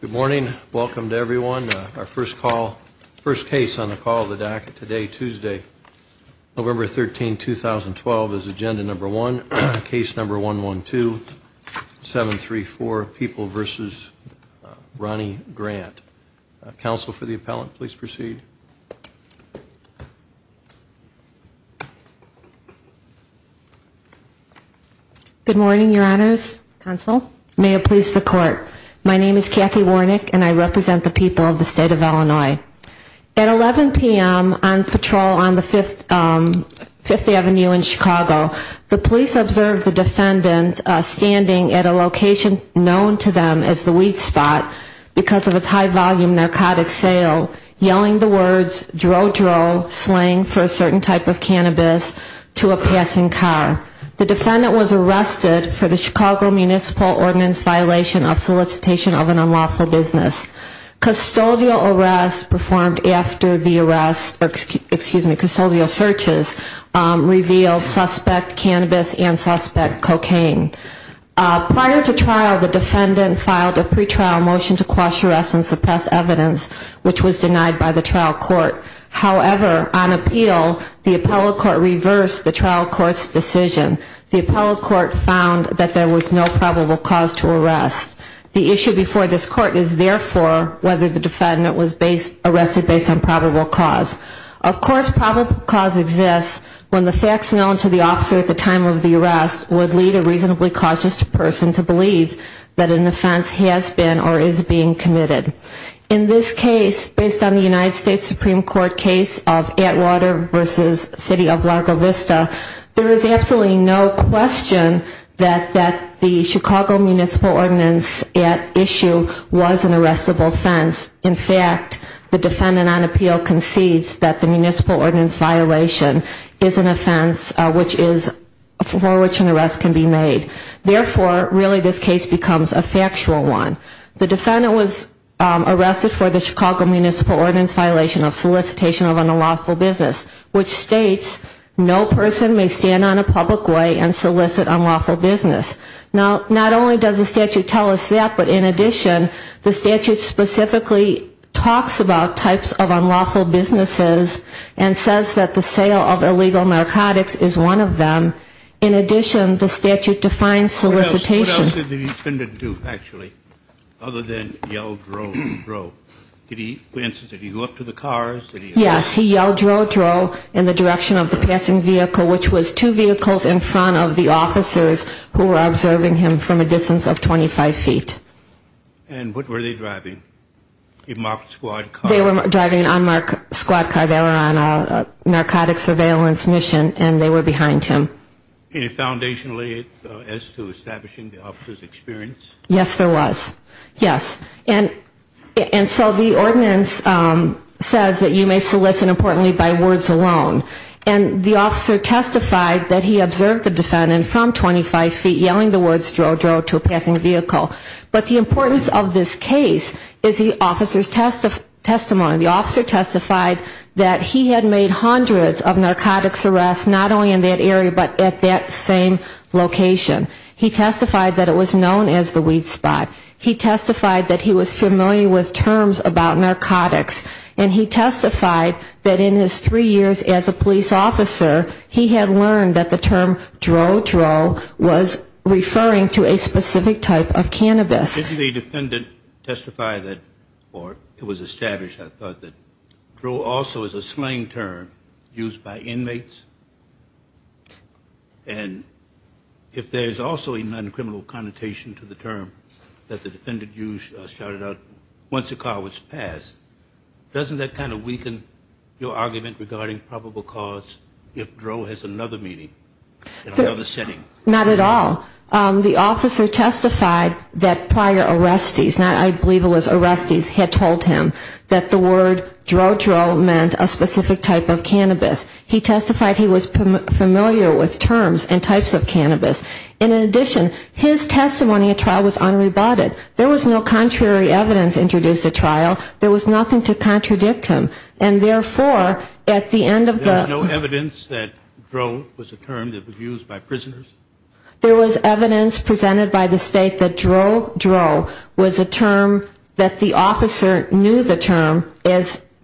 Good morning. Welcome to everyone. Our first call, first case on the call of the DACA today, Tuesday, November 13, 2012, is agenda number one, case number 112, 734, People v. Ronnie Grant. Counsel for the appellant, please proceed. Good morning, your honors. Counsel, may it please the court. My name is Kathy Warnick and I represent the people of the state of Illinois. At 11 p.m. on patrol on the 5th Avenue in Chicago, the police observed the defendant standing at a location known to them as the weed spot because of its high volume narcotic sale, yelling the words, dro, dro, slang for a certain type of cannabis to a passing car. The defendant was arrested for the Chicago Municipal Ordinance violation of solicitation of an unlawful business. Custodial arrests performed after the arrests, excuse me, custodial searches revealed suspect cannabis and suspect cocaine. Prior to trial, the defendant filed a pre-trial motion to quash arrests and suppress evidence, which was denied by the trial court. However, on appeal, the appellate court reversed the trial court's decision. The appellate court found that there was no probable cause to arrest. The issue before this court is, therefore, whether the defendant was arrested based on probable cause. Of course, probable cause exists when the facts known to the officer at the time of the arrest would lead a reasonably cautious person to believe that an offense has been or is being committed. In this case, based on the United States Supreme Court case of Atwater v. City of Largo Vista, there is absolutely no question that the Chicago Municipal Ordinance at issue was an arrestable offense. In fact, the defendant on appeal concedes that the Municipal Ordinance violation is an offense for which an arrest can be made. Therefore, really this case becomes a factual one. The defendant was arrested for the Chicago Municipal Ordinance violation of solicitation of unlawful business, which states no person may stand on a public way and solicit unlawful business. Now, not only does the statute tell us that, but in addition, the statute specifically talks about types of unlawful businesses and says that the sale of illegal narcotics is one of them. In addition, the statute defines solicitation. And what else did the defendant do, actually, other than yell, drow, drow? Did he, for instance, did he go up to the cars? Yes, he yelled, drow, drow, in the direction of the passing vehicle, which was two vehicles in front of the officers who were observing him from a distance of 25 feet. And what were they driving? A marked squad car? They were driving an unmarked squad car. They were on a narcotic surveillance mission, and they were behind him. Any foundation laid as to establishing the officer's experience? Yes, there was. Yes. And so the ordinance says that you may solicit, importantly, by words alone. And the officer testified that he observed the defendant from 25 feet, yelling the words, drow, drow, to a passing vehicle. But the importance of this case is the officer's testimony. The officer testified that he had made hundreds of narcotics arrests, not only in that area, but at that same location. He testified that it was known as the weed spot. He testified that he was familiar with terms about narcotics. And he testified that in his three years as a police officer, he had learned that the term, drow, drow, was referring to a specific type of chemical. Did the defendant testify that, or it was established, I thought, that drow also is a slang term used by inmates? And if there is also a non-criminal connotation to the term that the defendant used, shouted out, once a car was passed, doesn't that kind of weaken your argument regarding probable cause if drow has another meaning in another setting? Not at all. The officer testified that prior arrestees, I believe it was arrestees, had told him that the word drow, drow meant a specific type of cannabis. He testified he was familiar with terms and types of cannabis. And in addition, his testimony at trial was unrebutted. There was no contrary evidence introduced at trial. There was nothing to contradict him. And therefore, at the end of the ‑‑ There was no evidence that drow was a term that was used by prisoners? There was evidence presented by the state that drow, drow was a term that the officer knew the term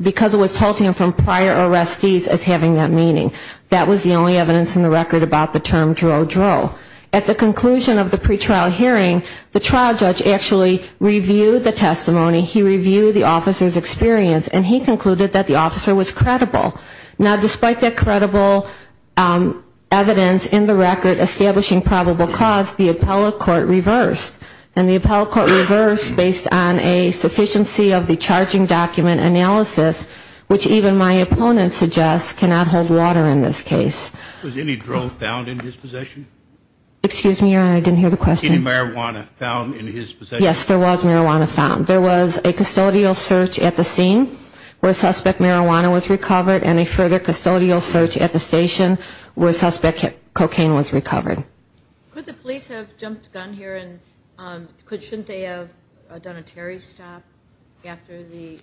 because it was told to him from prior arrestees as having that meaning. That was the only evidence in the record about the term drow, drow. At the conclusion of the pretrial hearing, the trial judge actually reviewed the testimony, he reviewed the officer's experience, and he concluded that the officer was credible. Now, despite that credible evidence in the record establishing probable cause, the appellate court reversed. And the appellate court reversed based on a sufficiency of the charging document analysis, which even my opponent suggests cannot hold water in this case. Was any drow found in his possession? Excuse me, Your Honor, I didn't hear the question. Any marijuana found in his possession? Yes, there was marijuana found. There was a custodial search at the scene where suspect marijuana was recovered and a further custodial search at the station where suspect cocaine was recovered. Could the police have jumped the gun here and shouldn't they have done a Terry stop after the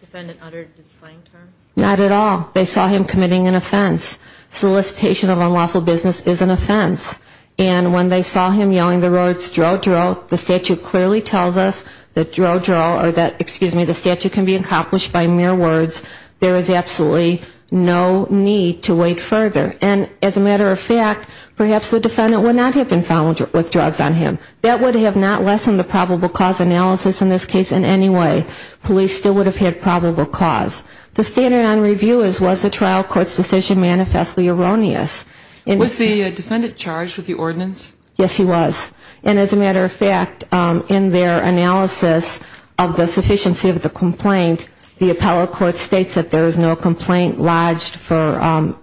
defendant uttered the slang term? Not at all. They saw him committing an offense. Solicitation of unlawful business is an offense. And when they saw him yelling the words drow, drow, the statute clearly tells us that drow, drow, or that, excuse me, the statute can be accomplished by mere words. There is absolutely no need to wait further. And as a matter of fact, perhaps the defendant would not have been found with drugs on him. That would have not lessened the probable cause analysis in this case in any way. Police still would have had probable cause. The standard on review is was the trial court's decision manifestly erroneous? Was the defendant charged with the ordinance? Yes, he was. And as a matter of fact, in their analysis of the sufficiency of the complaint, the appellate court states that there is no complaint lodged for,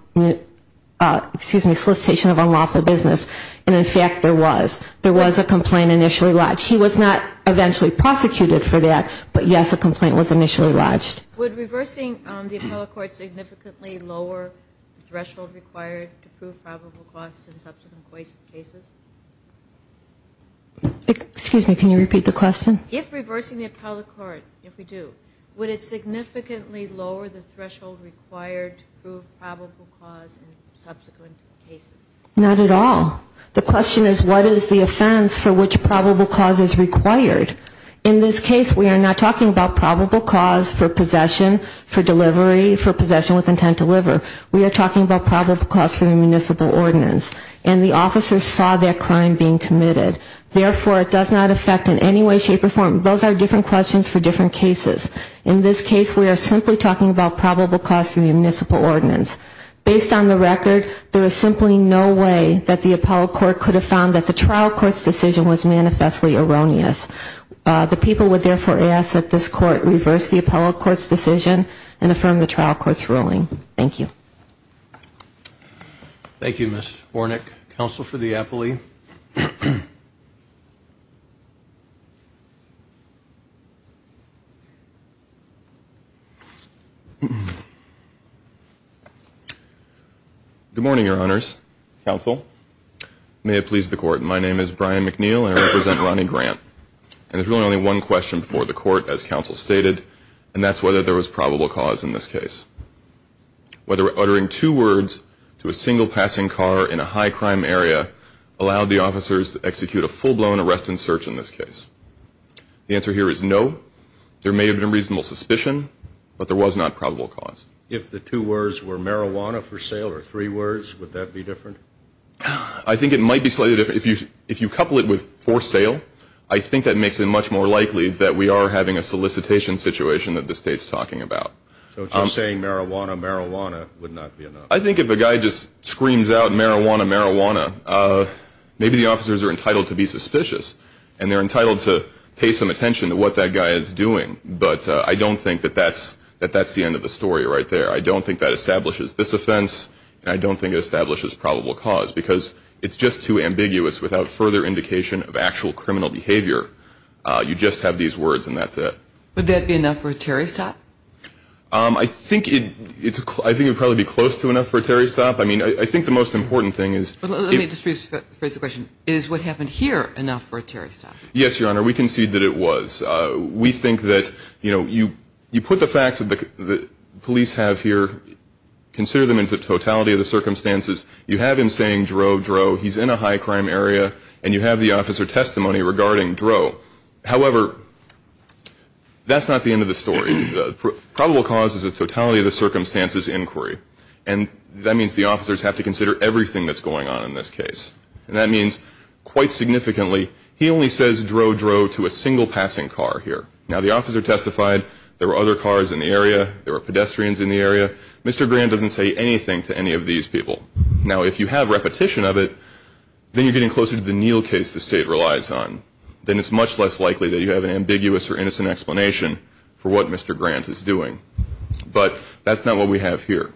excuse me, solicitation of unlawful business. And in fact, there was. There was a complaint initially lodged. He was not eventually prosecuted for that, but yes, a complaint was initially lodged. Would reversing the appellate court significantly lower the threshold required to prove probable cause in subsequent cases? Excuse me, can you repeat the question? If reversing the appellate court, if we do, would it significantly lower the threshold required to prove probable cause in subsequent cases? Not at all. The question is what is the offense for which probable cause is required? In this case, we are not talking about probable cause for possession, for delivery, for possession with intent to deliver. We are talking about probable cause for the municipal ordinance. And the officer saw that crime being committed. Therefore, it does not affect in any way, shape, or form. Those are different questions for different cases. In this case, we are simply talking about probable cause for the municipal ordinance. Based on the record, there is simply no way that the appellate court could have found that the trial court's decision was manifestly erroneous. The people would therefore ask that this court reverse the appellate court's decision and affirm the trial court's ruling. Thank you. Thank you, Ms. Bornick. Counsel for the appellee. Good morning, Your Honors. Counsel. May it please the Court. My name is Brian McNeil. I represent Ronnie Grant. And there is really only one question for the Court, as Counsel stated, and that is whether there was probable cause in this case. Whether uttering two words to a single passing car in a high crime area allowed the officers to execute a full-blown arrest and search in this case. The answer here is no. There may have been reasonable suspicion, but there was not probable cause. If the two words were marijuana for sale or three words, would that be different? I think it might be slightly different. If you couple it with for sale, I think that makes it much more likely that we are having a solicitation situation that the State is talking about. So if you're saying marijuana, marijuana would not be enough. I think if a guy just screams out marijuana, marijuana, maybe the officers are entitled to be suspicious. And they're entitled to pay some attention to what that guy is doing. But I don't think that that's the end of the story right there. I don't think that establishes this offense. And I don't think it establishes probable cause because it's just too ambiguous without further indication of actual criminal behavior. You just have these words and that's it. Would that be enough for a Terry stop? I think it would probably be close to enough for a Terry stop. I think the most important thing is... Consider them into the totality of the circumstances. You have him saying, Dro, Dro. He's in a high crime area. And you have the officer testimony regarding Dro. However, that's not the end of the story. The probable cause is the totality of the circumstances inquiry. And that means the officers have to consider everything that's going on in this case. And that means, quite significantly, he only says Dro, Dro to a single passing car here. Now, the officer testified. There were other cars in the area. There were pedestrians in the area. Mr. Grant doesn't say anything to any of these people. Now, if you have repetition of it, then you're getting closer to the Neal case the state relies on. Then it's much less likely that you have an ambiguous or innocent explanation for what Mr. Grant is doing. But that's not what we have here.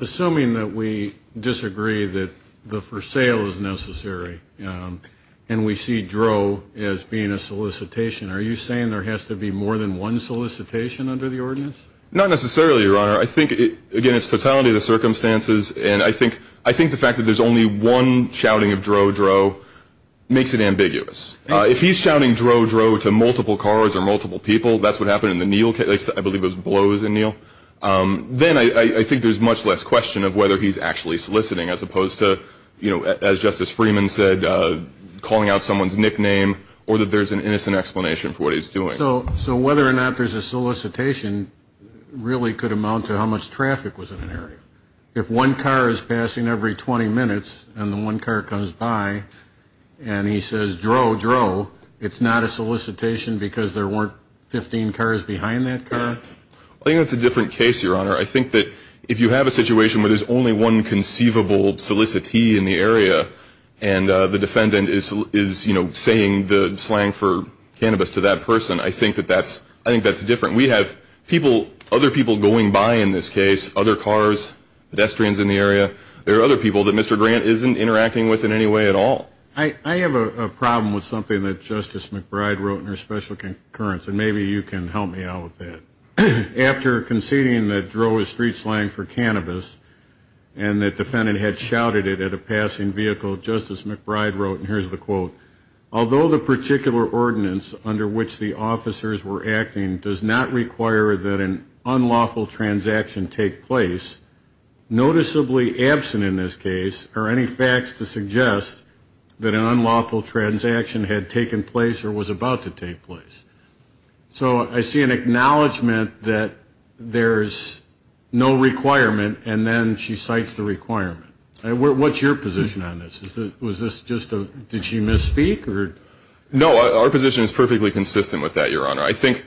Assuming that we disagree that the for sale is necessary and we see Dro as being a solicitation, are you saying there has to be more than one solicitation under the ordinance? Not necessarily, Your Honor. I think, again, it's totality of the circumstances. And I think the fact that there's only one shouting of Dro, Dro makes it ambiguous. If he's shouting Dro, Dro to multiple cars or multiple people, that's what happened in the Neal case. I believe it was blows in Neal. Then I think there's much less question of whether he's actually soliciting as opposed to, as Justice Freeman said, calling out someone's nickname or that there's an innocent explanation for what he's doing. So whether or not there's a solicitation really could amount to how much traffic was in an area. If one car is passing every 20 minutes and the one car comes by and he says Dro, Dro, it's not a solicitation because there weren't 15 cars behind that car? I think that's a different case, Your Honor. I think that if you have a situation where there's only one conceivable solicitee in the area and the defendant is saying the slang for cannabis to that person, I think that's different. We have other people going by in this case, other cars, pedestrians in the area. There are other people that Mr. Grant isn't interacting with in any way at all. I have a problem with something that Justice McBride wrote in her special concurrence, and maybe you can help me out with that. And the defendant had shouted it at a passing vehicle. Justice McBride wrote, and here's the quote, although the particular ordinance under which the officers were acting does not require that an unlawful transaction take place, noticeably absent in this case are any facts to suggest that an unlawful transaction had taken place or was about to take place. So I see an acknowledgment that there's no requirement, and then she cites the requirement. What's your position on this? Was this just a, did she misspeak? No, our position is perfectly consistent with that, Your Honor. I think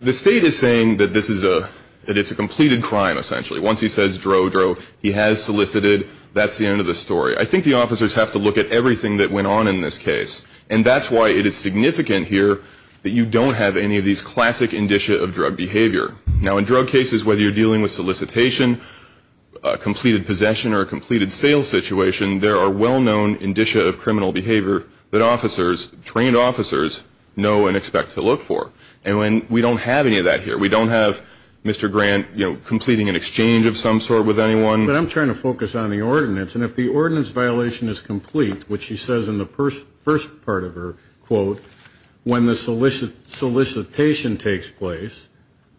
the State is saying that this is a, that it's a completed crime, essentially. Once he says, drow, drow, he has solicited, that's the end of the story. I think the officers have to look at everything that went on in this case, and that's why it is significant here that you don't have any of these classic indicia of drug behavior. Now, in drug cases, whether you're dealing with solicitation, completed possession, or a completed sales situation, there are well-known indicia of criminal behavior that officers, trained officers, know and expect to look for. And we don't have any of that here. We don't have Mr. Grant, you know, completing an exchange of some sort with anyone. But I'm trying to focus on the ordinance, and if the ordinance violation is complete, which she says in the first part of her quote, when the solicitation takes place,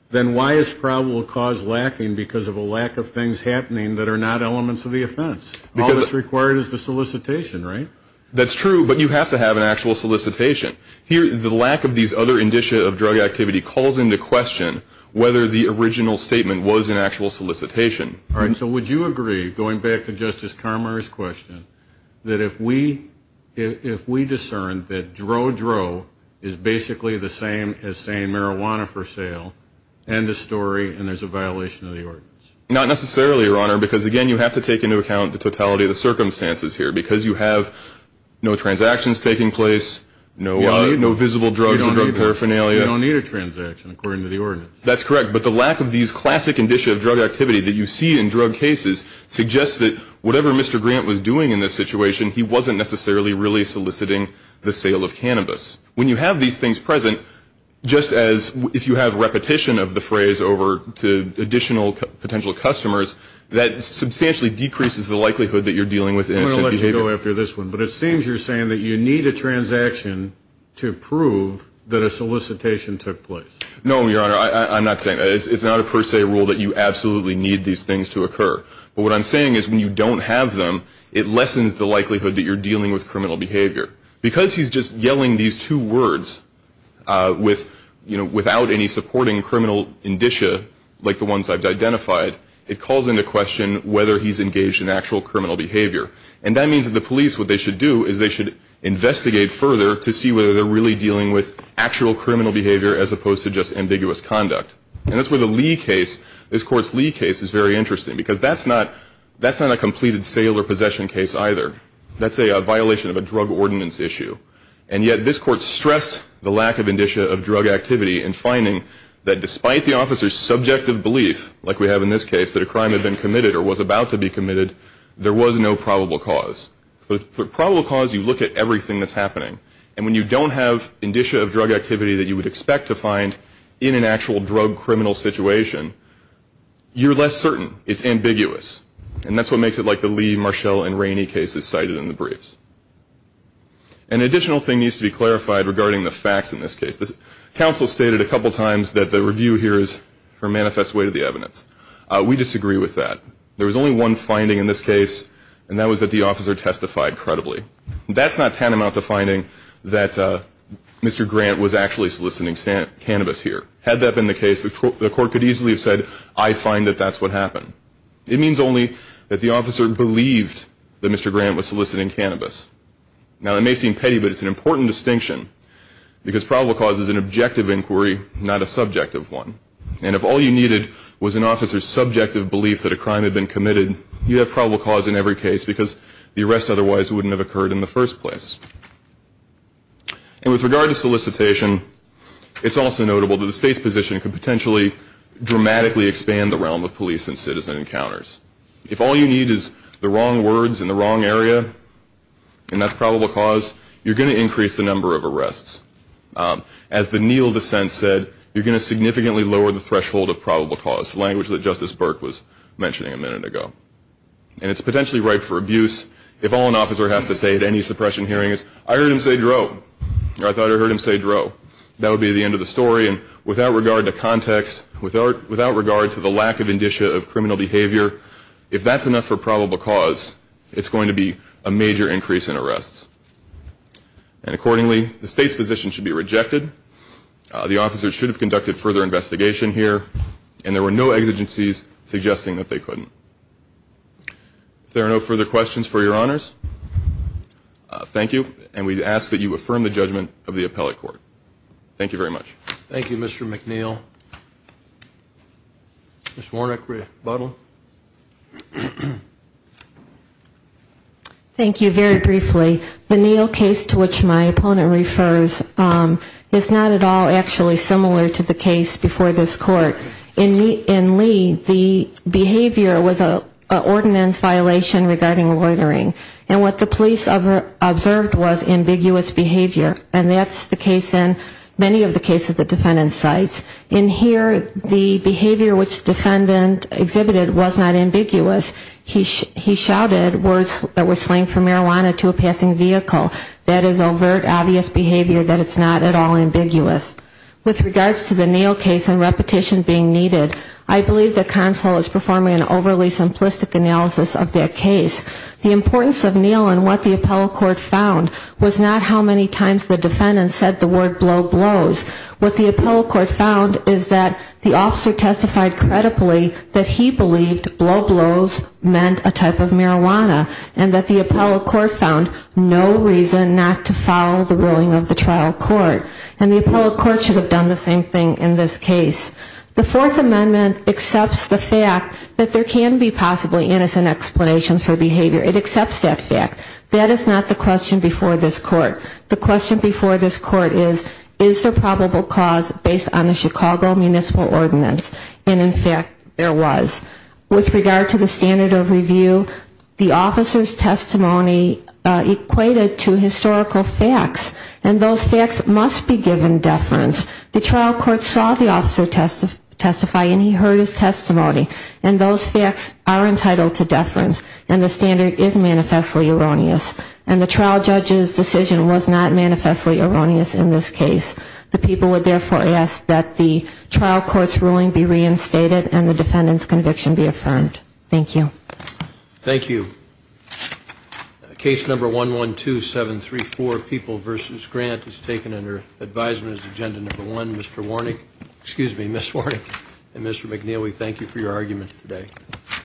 then why is probable cause lacking because of a lack of things happening that are not elements of the offense? All that's required is the solicitation, right? That's true, but you have to have an actual solicitation. Here, the lack of these other indicia of drug activity calls into question whether the original statement was an actual solicitation. All right, so would you agree, going back to Justice Carmar's question, that if we discern that dro-dro is basically the same as saying marijuana for sale, end of story, and there's a violation of the ordinance? Not necessarily, Your Honor, because, again, you have to take into account the totality of the circumstances here. Because you have no transactions taking place, no visible drugs or drug paraphernalia. You don't need a transaction, according to the ordinance. That's correct, but the lack of these classic indicia of drug activity that you see in drug cases suggests that whatever Mr. Grant was doing in this situation, he wasn't necessarily really soliciting the sale of cannabis. When you have these things present, just as if you have repetition of the phrase over to additional potential customers, that substantially decreases the likelihood that you're dealing with innocent behavior. I'm going to let you go after this one, but it seems you're saying that you need a transaction to prove that a solicitation took place. No, Your Honor, I'm not saying that. It's not a per se rule that you absolutely need these things to occur. But what I'm saying is when you don't have them, it lessens the likelihood that you're dealing with criminal behavior. Because he's just yelling these two words without any supporting criminal indicia, like the ones I've identified, it calls into question whether he's engaged in actual criminal behavior. And that means that the police, what they should do, is they should investigate further to see whether they're really dealing with actual criminal behavior as opposed to just ambiguous conduct. And that's where the Lee case, this Court's Lee case, is very interesting. Because that's not a completed sale or possession case either. That's a violation of a drug ordinance issue. And yet this Court stressed the lack of indicia of drug activity in finding that despite the officer's subjective belief, like we have in this case, that a crime had been committed or was about to be committed, there was no probable cause. For probable cause, you look at everything that's happening. And when you don't have indicia of drug activity that you would expect to find in an actual drug criminal situation, you're less certain. It's ambiguous. And that's what makes it like the Lee, Marshall, and Rainey cases cited in the briefs. An additional thing needs to be clarified regarding the facts in this case. The counsel stated a couple times that the review here is for manifest way to the evidence. We disagree with that. There was only one finding in this case, and that was that the officer testified credibly. That's not tantamount to finding that Mr. Grant was actually soliciting cannabis here. Had that been the case, the Court could easily have said, I find that that's what happened. It means only that the officer believed that Mr. Grant was soliciting cannabis. Now, it may seem petty, but it's an important distinction because probable cause is an objective inquiry, not a subjective one. And if all you needed was an officer's subjective belief that a crime had been committed, you have probable cause in every case because the arrest otherwise wouldn't have occurred in the first place. And with regard to solicitation, it's also notable that the State's position could potentially dramatically expand the realm of police and citizen encounters. If all you need is the wrong words in the wrong area, and that's probable cause, you're going to increase the number of arrests. As the Neal dissent said, you're going to significantly lower the threshold of probable cause, the language that Justice Burke was mentioning a minute ago. And it's potentially ripe for abuse. If all an officer has to say at any suppression hearing is, I heard him say dro, or I thought I heard him say dro, that would be the end of the story. And without regard to context, without regard to the lack of indicia of criminal behavior, if that's enough for probable cause, it's going to be a major increase in arrests. And accordingly, the State's position should be rejected. The officers should have conducted further investigation here. And there were no exigencies suggesting that they couldn't. If there are no further questions for Your Honors, thank you. And we ask that you affirm the judgment of the appellate court. Thank you very much. Thank you, Mr. McNeil. Ms. Warnock, rebuttal. Thank you. Very briefly, the Neal case to which my opponent refers is not at all actually similar to the case before this court. In Lee, the behavior was an ordinance violation regarding loitering. And what the police observed was ambiguous behavior. And that's the case in many of the cases the defendant cites. In here, the behavior which the defendant exhibited was not ambiguous. He shouted words that were slang for marijuana to a passing vehicle. That is overt, obvious behavior that is not at all ambiguous. With regards to the Neal case and repetition being needed, I believe the counsel is performing an overly simplistic analysis of their case. The importance of Neal and what the appellate court found was not how many times the defendant said the word blow blows. What the appellate court found is that the officer testified credibly that he believed blow blows meant a type of marijuana and that the appellate court found no reason not to follow the ruling of the trial court. And the appellate court should have done the same thing in this case. The Fourth Amendment accepts the fact that there can be possibly innocent explanations for behavior. It accepts that fact. That is not the question before this court. The question before this court is, is there probable cause based on the Chicago Municipal Ordinance? And, in fact, there was. With regard to the standard of review, the officer's testimony equated to historical facts. And those facts must be given deference. The trial court saw the officer testify and he heard his testimony. And those facts are entitled to deference. And the standard is manifestly erroneous. And the trial judge's decision was not manifestly erroneous in this case. The people would, therefore, ask that the trial court's ruling be reinstated and the defendant's conviction be affirmed. Thank you. Thank you. Case number 112734, People v. Grant, is taken under advisement as agenda number one. Mr. Warnick, excuse me, Ms. Warnick and Mr. McNeely, thank you for your arguments today.